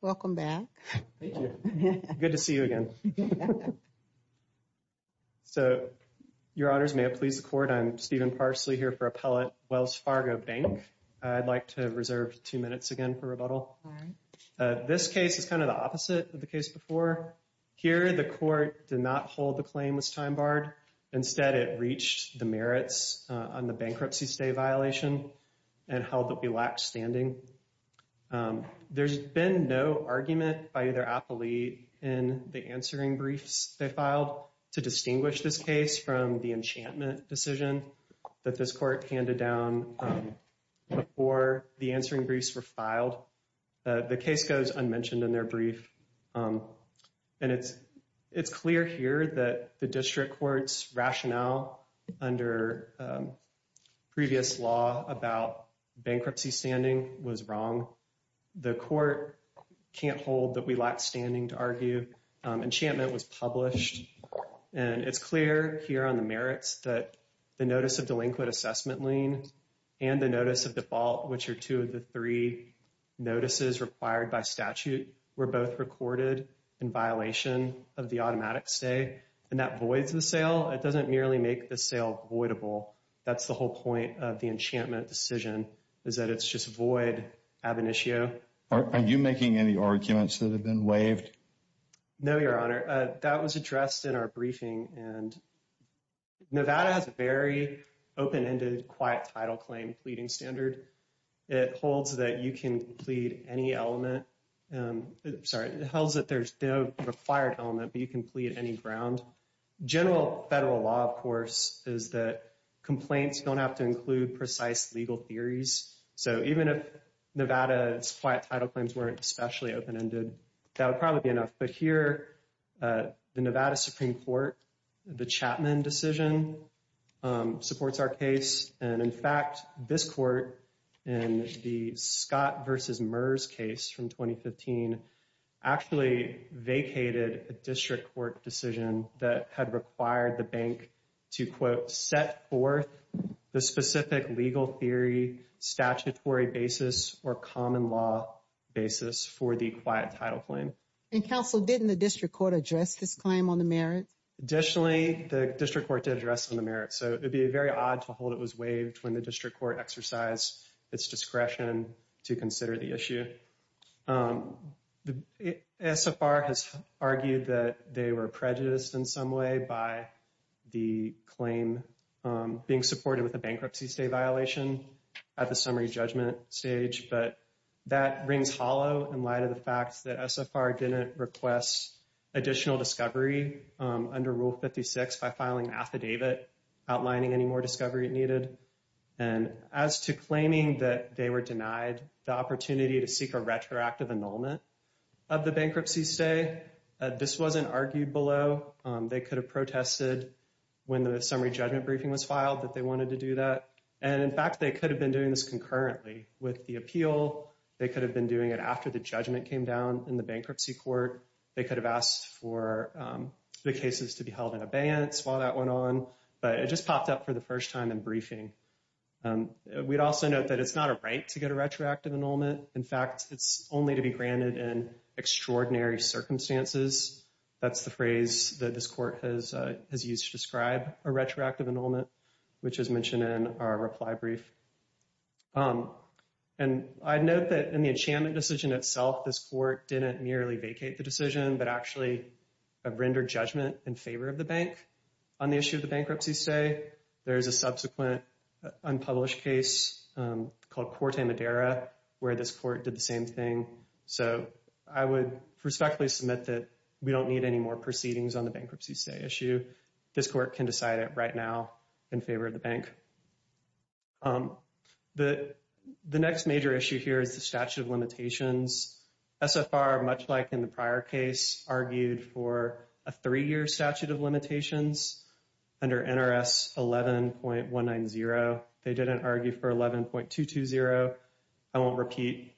Welcome back. Thank you. Good to see you again. So, Your Honors, may it please the Court, I'm Stephen Parsley here for Appellate Wells Fargo Bank. I'd like to reserve two minutes again for rebuttal. All right. This case is kind of the opposite of the case before. Here, the Court did not hold the claim was time barred. Instead, it reached the merits on the bankruptcy stay violation and held that we lacked standing. There's been no argument by either appellate in the answering briefs they filed to distinguish this case from the enchantment decision that this Court handed down before the answering briefs were filed. The case goes unmentioned in their brief. And it's clear here that the district court's rationale under previous law about bankruptcy standing was wrong. The Court can't hold that we lack standing to argue. Enchantment was published. And it's clear here on the merits that the notice of delinquent assessment lien and the notice of default, which are two of the three notices required by statute, were both recorded in violation of the automatic stay. And that voids the sale. It doesn't merely make the sale voidable. That's the whole point of the enchantment decision is that it's just void ab initio. Are you making any arguments that have been waived? No, Your Honor. That was addressed in our briefing. And Nevada has a very open-ended, quiet title claim pleading standard. It holds that you can plead any element. Sorry, it holds that there's no required element, but you can plead any ground. General federal law, of course, is that complaints don't have to include precise legal theories. So even if Nevada's quiet title claims weren't especially open-ended, that would probably be enough. But here, the Nevada Supreme Court, the Chapman decision, supports our case. And in fact, this court in the Scott v. Murs case from 2015 actually vacated a district court decision that had required the bank to, quote, set forth the specific legal theory, statutory basis, or common law basis for the quiet title claim. And counsel, didn't the district court address this claim on the merit? Additionally, the district court did address on the merit. So it would be very odd to hold it was waived when the district court exercised its discretion to consider the issue. SFR has argued that they were prejudiced in some way by the claim being supported with a bankruptcy state violation at the summary judgment stage. But that rings hollow in light of the fact that SFR didn't request additional discovery under Rule 56 by filing affidavit outlining any more discovery needed. And as to claiming that they were denied the opportunity to seek a retroactive annulment of the bankruptcy stay, this wasn't argued below. They could have protested when the summary judgment briefing was filed that they wanted to do that. And in fact, they could have been doing this concurrently with the appeal. They could have been doing it after the judgment came down in the bankruptcy court. They could have asked for the cases to be held in abeyance while that went on, but it just popped up for the first time in briefing. We'd also note that it's not a right to get a retroactive annulment. In fact, it's only to be granted in extraordinary circumstances. That's the phrase that this court has used to describe a retroactive annulment, which is mentioned in our reply brief. And I'd note that in the enchantment decision itself, this court didn't merely vacate the decision, but actually rendered judgment in favor of the bank on the issue of the bankruptcy stay. There is a subsequent unpublished case called Corte Madera where this court did the same thing. So I would respectfully submit that we don't need any more proceedings on the bankruptcy stay issue. This court can decide it right now in favor of the bank. The next major issue here is the statute of limitations. SFR, much like in the prior case, argued for a three-year statute of limitations under NRS 11.190. They didn't argue for 11.220. I won't repeat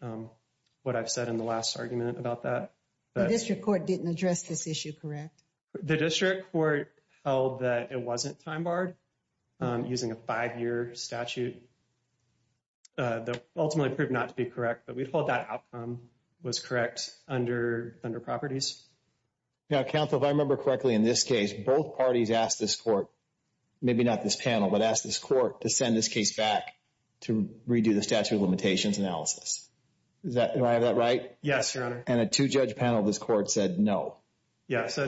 what I've said in the last argument about that. The district court didn't address this issue, correct? The district court held that it wasn't time barred using a five-year statute that ultimately proved not to be correct. But we thought that outcome was correct under properties. Now, counsel, if I remember correctly, in this case, both parties asked this court, maybe not this panel, but asked this court to send this case back to redo the statute of limitations analysis. Do I have that right? Yes, Your Honor. And a two-judge panel of this court said no. Yes.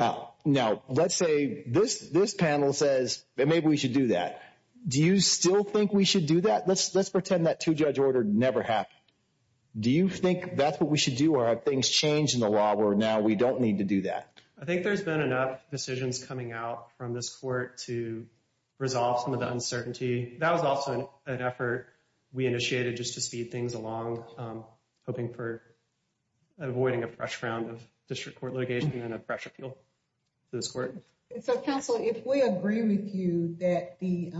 Now, let's say this panel says maybe we should do that. Do you still think we should do that? Let's pretend that two-judge order never happened. Do you think that's what we should do or have things changed in the law where now we don't need to do that? I think there's been enough decisions coming out from this court to resolve some of the uncertainty. That was also an effort we initiated just to speed things along, hoping for avoiding a fresh round of district court litigation and a fresh appeal to this court. So, counsel, if we agree with you that the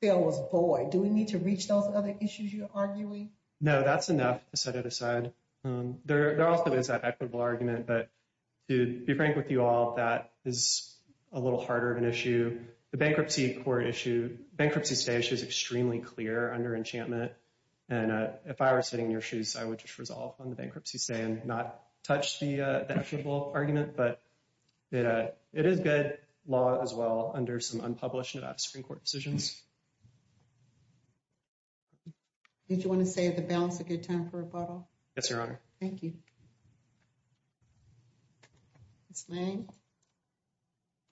bill was void, do we need to reach those other issues you're arguing? No, that's enough to set it aside. There also is that equitable argument, but to be frank with you all, that is a little harder of an issue. The bankruptcy court issue, bankruptcy stay issue is extremely clear under enchantment. And if I were sitting in your shoes, I would just resolve on the bankruptcy stay and not touch the equitable argument. But it is good law as well under some unpublished and out-of-screen court decisions. Did you want to save the balance a good time for rebuttal? Yes, Your Honor. Thank you. Ms. Lane?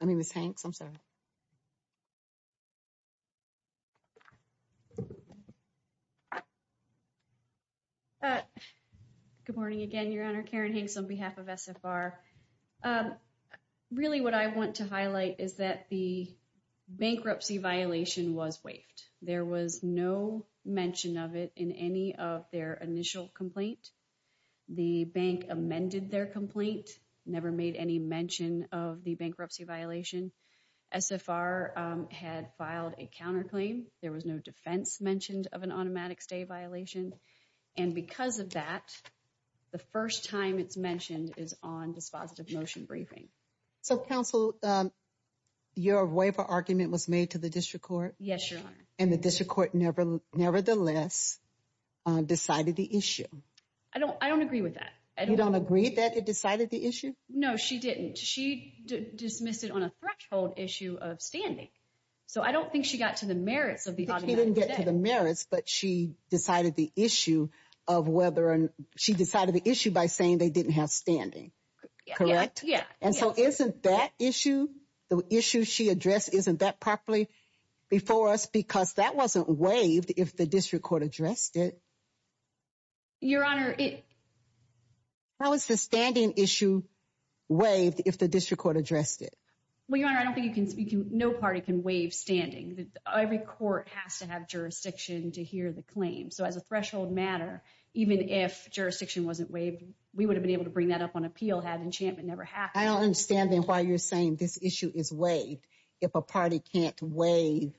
I mean, Ms. Hanks, I'm sorry. Good morning again, Your Honor. Karen Hanks on behalf of SFR. Really what I want to highlight is that the bankruptcy violation was waived. There was no mention of it in any of their initial complaint. The bank amended their complaint, never made any mention of the bankruptcy violation. SFR had filed a counterclaim. There was no defense mentioned of an automatic stay violation. And because of that, the first time it's mentioned is on dispositive motion briefing. So, counsel, your waiver argument was made to the district court? Yes, Your Honor. And the district court nevertheless decided the issue? I don't agree with that. You don't agree that it decided the issue? No, she didn't. She dismissed it on a threshold issue of standing. So, I don't think she got to the merits of the argument. She didn't get to the merits, but she decided the issue by saying they didn't have standing. Correct? Yeah. And so, isn't that issue, the issue she addressed, isn't that properly before us? Because that wasn't waived if the district court addressed it. Your Honor, it... How is the standing issue waived if the district court addressed it? Well, Your Honor, I don't think you can speak to... No party can waive standing. Every court has to have jurisdiction to hear the claim. So, as a threshold matter, even if jurisdiction wasn't waived, we would have been able to bring that up on appeal had enchantment never happened. I don't understand, then, why you're saying this issue is waived if a party can't waive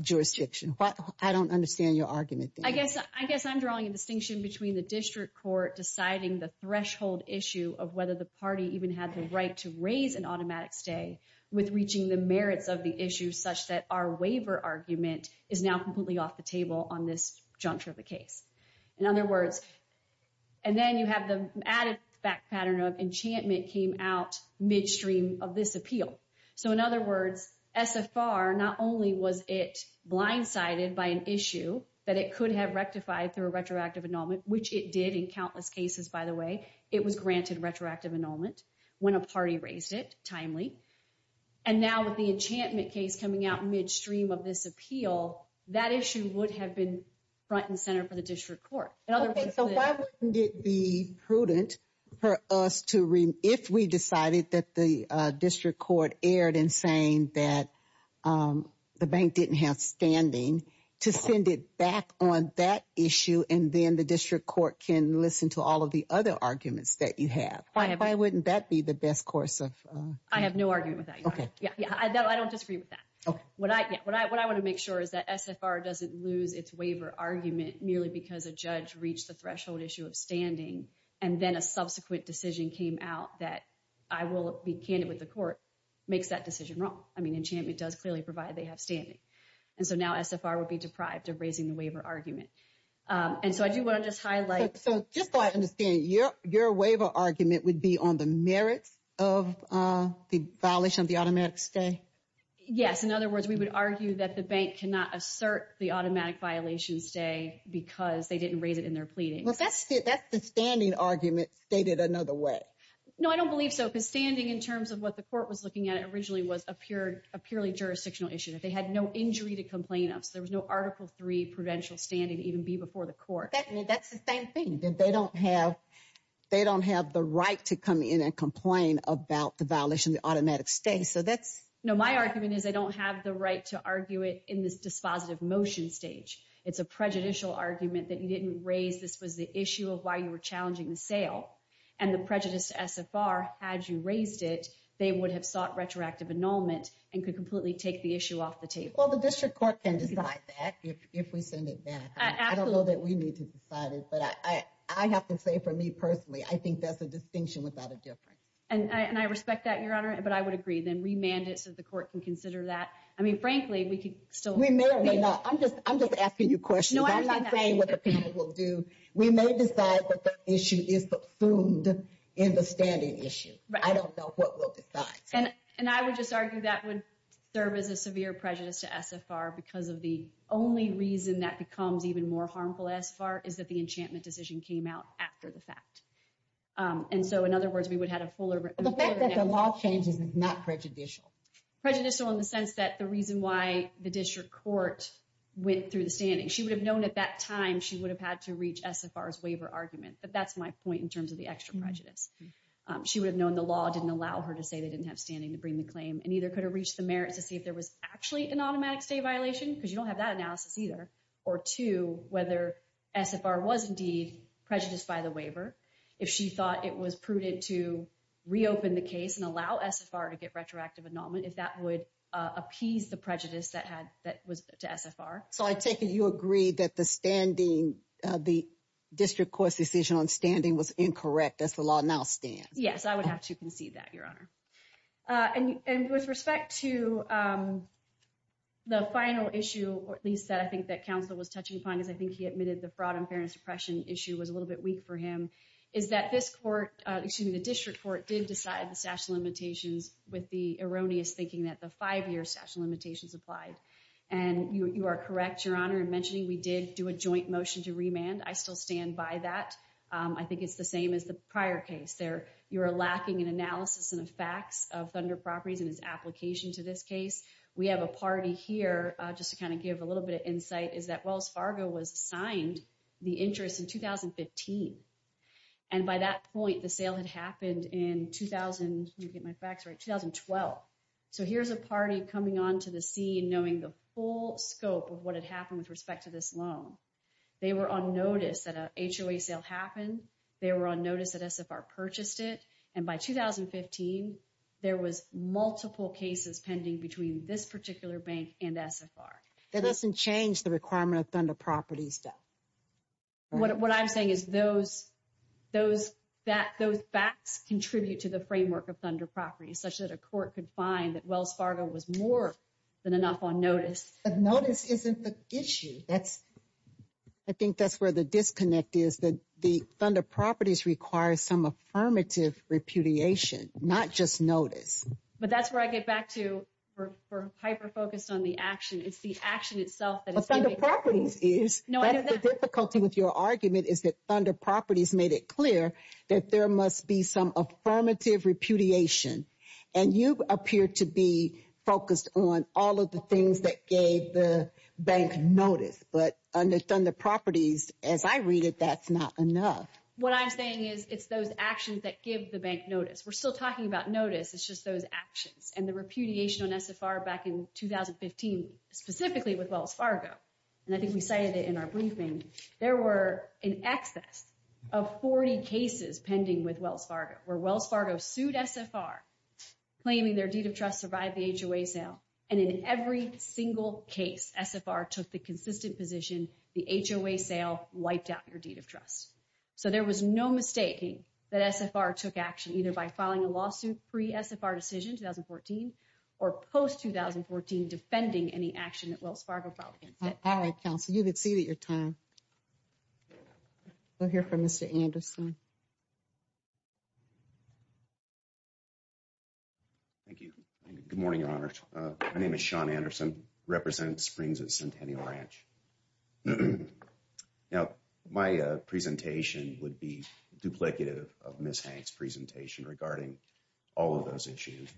jurisdiction. I don't understand your argument, then. I guess I'm drawing a distinction between the district court deciding the threshold issue of whether the party even had the right to raise an automatic stay with reaching the merits of the issue such that our waiver argument is now completely off the table on this juncture of the case. In other words... And then you have the added back pattern of enchantment came out midstream of this appeal. So, in other words, SFR, not only was it blindsided by an issue that it could have rectified through a retroactive annulment, which it did in countless cases, by the way, it was granted retroactive annulment when a party raised it timely. And now with the enchantment case coming out midstream of this appeal, that issue would have been front and center for the district court. So why wouldn't it be prudent for us to, if we decided that the district court erred in saying that the bank didn't have standing, to send it back on that issue and then the district court can listen to all of the other arguments that you have? Why wouldn't that be the best course of... I have no argument with that. Okay. I don't disagree with that. What I want to make sure is that SFR doesn't lose its waiver argument merely because a judge reached the threshold issue of standing and then a subsequent decision came out that I will be candid with the court makes that decision wrong. I mean, enchantment does clearly provide they have standing. And so now SFR would be deprived of raising the waiver argument. And so I do want to just highlight... So just so I understand, your waiver argument would be on the merits of the violation of the automatic stay? Yes. In other words, we would argue that the bank cannot assert the automatic violation stay because they didn't raise it in their pleading. Well, that's the standing argument stated another way. No, I don't believe so. Because standing, in terms of what the court was looking at, originally was a purely jurisdictional issue. They had no injury to complain of. So there was no Article III prudential standing to even be before the court. That's the same thing. They don't have the right to come in and complain about the violation of the automatic stay. So that's... No, my argument is they don't have the right to argue it in this dispositive motion stage. It's a prejudicial argument that you didn't raise. This was the issue of why you were challenging the sale. And the prejudice to SFR, had you raised it, they would have sought retroactive annulment and could completely take the issue off the table. Well, the district court can decide that if we send it back. I don't know that we need to decide it. But I have to say for me personally, I think that's a distinction without a difference. And I respect that, Your Honor, but I would agree. Then remand it so the court can consider that. I mean, frankly, we could still... We may or may not. I'm just asking you questions. I'm not saying what the panel will do. We may decide that the issue is performed in the standing issue. I don't know what we'll decide. And I would just argue that would serve as a severe prejudice to SFR because of the only reason that becomes even more harmful SFR is that the enchantment decision came out after the fact. And so, in other words, we would have a fuller... The fact that the law changes is not prejudicial. Prejudicial in the sense that the reason why the district court went through the standing, she would have known at that time she would have had to reach SFR's waiver argument. But that's my point in terms of the extra prejudice. She would have known the law didn't allow her to say they didn't have standing to bring the claim and either could have reached the merits to see if there was actually an automatic state violation, because you don't have that analysis either, or two, whether SFR was indeed prejudiced by the waiver. If she thought it was prudent to reopen the case and allow SFR to get retroactive annulment, if that would appease the prejudice that was to SFR. So I take it you agree that the district court's decision on standing was incorrect as the law now stands. Yes, I would have to concede that, Your Honor. And with respect to the final issue, or at least that I think that counsel was touching upon, because I think he admitted the fraud and fairness suppression issue was a little bit weak for him, is that this court, excuse me, the district court did decide the statute of limitations with the erroneous thinking that the five-year statute of limitations applied. And you are correct, Your Honor, in mentioning we did do a joint motion to remand. I still stand by that. I think it's the same as the prior case. You're lacking an analysis and facts of Thunder Properties and its application to this case. We have a party here, just to kind of give a little bit of insight, is that Wells Fargo was assigned the interest in 2015. And by that point, the sale had happened in 2012. So here's a party coming onto the scene knowing the full scope of what had happened with respect to this loan. They were on notice that an HOA sale happened. They were on notice that SFR purchased it. And by 2015, there was multiple cases pending between this particular bank and SFR. That doesn't change the requirement of Thunder Properties, though. What I'm saying is those facts contribute to the framework of Thunder Properties, such that a court could find that Wells Fargo was more than enough on notice. But notice isn't the issue. I think that's where the disconnect is, that the Thunder Properties requires some affirmative repudiation, not just notice. But that's where I get back to hyper-focused on the action. It's the action itself that is difficult. But Thunder Properties is. The difficulty with your argument is that Thunder Properties made it clear that there must be some affirmative repudiation. And you appear to be focused on all of the things that gave the bank notice. But under Thunder Properties, as I read it, that's not enough. What I'm saying is it's those actions that give the bank notice. We're still talking about notice. It's just those actions and the repudiation on SFR back in 2015, specifically with Wells Fargo. And I think we cited it in our briefing. There were in excess of 40 cases pending with Wells Fargo, where Wells Fargo sued SFR, claiming their deed of trust survived the HOA sale. And in every single case, SFR took the consistent position, the HOA sale wiped out your deed of trust. So there was no mistaking that SFR took action, either by filing a lawsuit pre-SFR decision, 2014, or post-2014 defending any action that Wells Fargo filed against it. All right, counsel, you've exceeded your time. We'll hear from Mr. Anderson. Thank you. Good morning, Your Honor. My name is Sean Anderson, representative of Springs Centennial Ranch. Now, my presentation would be duplicative of Ms. Hanks' presentation regarding all of those issues.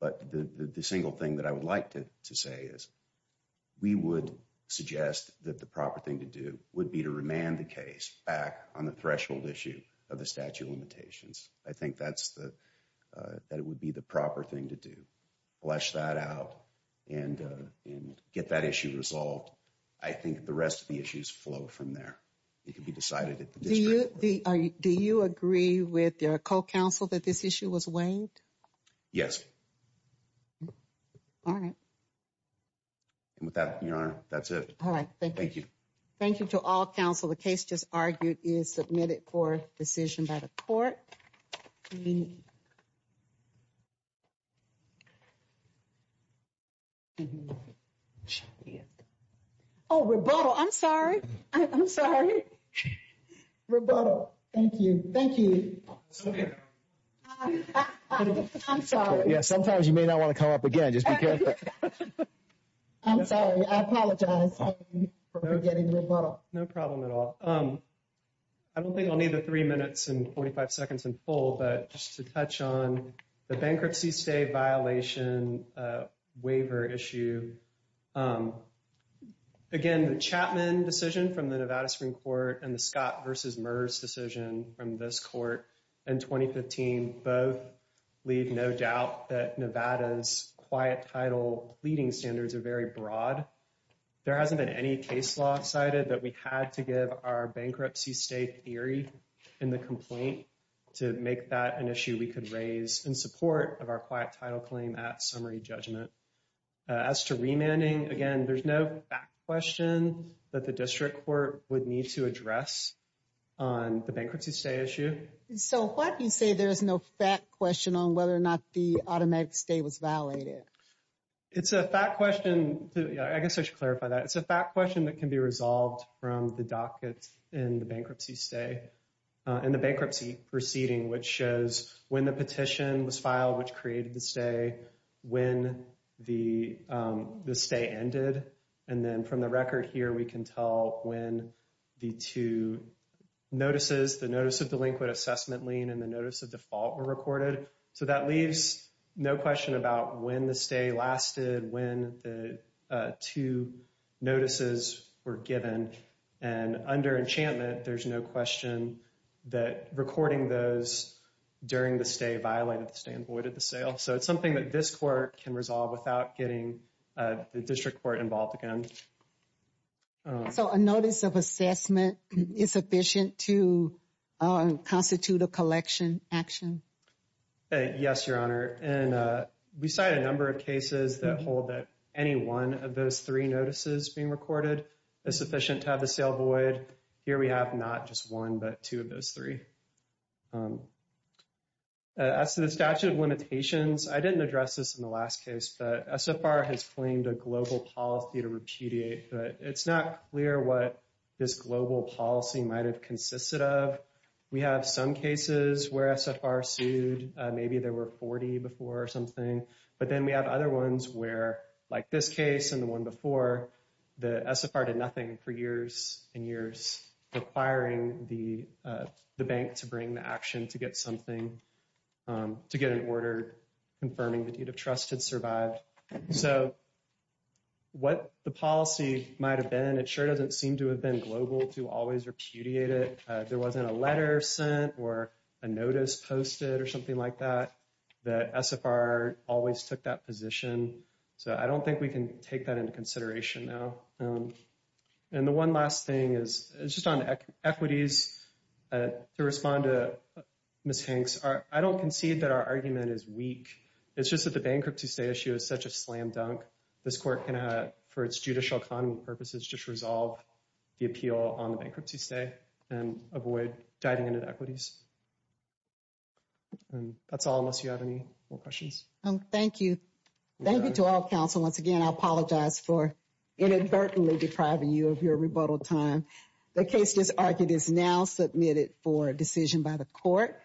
But the single thing that I would like to say is we would suggest that the proper thing to do would be to remand the case back on the threshold issue of the statute of limitations. I think that it would be the proper thing to do. Flesh that out and get that issue resolved. I think the rest of the issues flow from there. It can be decided at the district level. Do you agree with your co-counsel that this issue was waived? Yes. All right. And with that, Your Honor, that's it. All right, thank you. Thank you. Thank you to all counsel. The case just argued is submitted for decision by the court. Oh, rebuttal. I'm sorry. I'm sorry. Rebuttal. Thank you. Thank you. I'm sorry. Yeah, sometimes you may not want to come up again. Just be careful. I'm sorry. I apologize for getting rebuttal. No problem at all. I don't think I'll need the three minutes and 45 seconds in full. But just to touch on the bankruptcy stay violation waiver issue. Again, the Chapman decision from the Nevada Supreme Court and the Scott versus MERS decision from this court in 2015 both leave no doubt that Nevada's quiet title pleading standards are very broad. There hasn't been any case law cited that we had to give our bankruptcy stay theory in the complaint to make that an issue we could raise in support of our quiet title claim at summary judgment. As to remanding, again, there's no question that the district court would need to address on the bankruptcy stay issue. So why do you say there is no fact question on whether or not the automatic stay was valid? It's a fact question. I guess I should clarify that. It's a fact question that can be resolved from the docket and the bankruptcy stay and the bankruptcy proceeding, which shows when the petition was filed, which created the stay, when the stay ended. And then from the record here, we can tell when the two notices, the notice of delinquent assessment lien and the notice of default were recorded. So that leaves no question about when the stay lasted, when the two notices were given and under enchantment, there's no question that recording those during the stay violated the sale. So it's something that this court can resolve without getting the district court involved again. So a notice of assessment is sufficient to constitute a collection action. Yes, Your Honor. And we cite a number of cases that hold that any one of those three notices being recorded is sufficient to have the sale void here. We have not just one, but two of those three. As to the statute of limitations, I didn't address this in the last case, but SFR has claimed a global policy to repudiate, but it's not clear what this global policy might've consisted of. We have some cases where SFR sued, maybe there were 40 before or something, but then we have other ones where like this case and the one before the SFR did nothing for years and years requiring the bank to bring the action to get something, to get an order, confirming the deed of trust had survived. So what the policy might've been, it sure doesn't seem to have been global to always repudiate it. There wasn't a letter sent or a notice posted or something like that, that SFR always took that position. So I don't think we can take that into consideration now. And the one last thing is just on equities, to respond to Ms. Hanks, I don't concede that our argument is weak. It's just that the bankruptcy stay issue is such a slam dunk. This court can, for its judicial economy purposes, just resolve the appeal on the bankruptcy stay and avoid diving into equities. And that's all, unless you have any more questions. Thank you. Thank you to all counsel. Once again, I apologize for inadvertently depriving you of your rebuttal time. The case just argued is now submitted for decision by the court.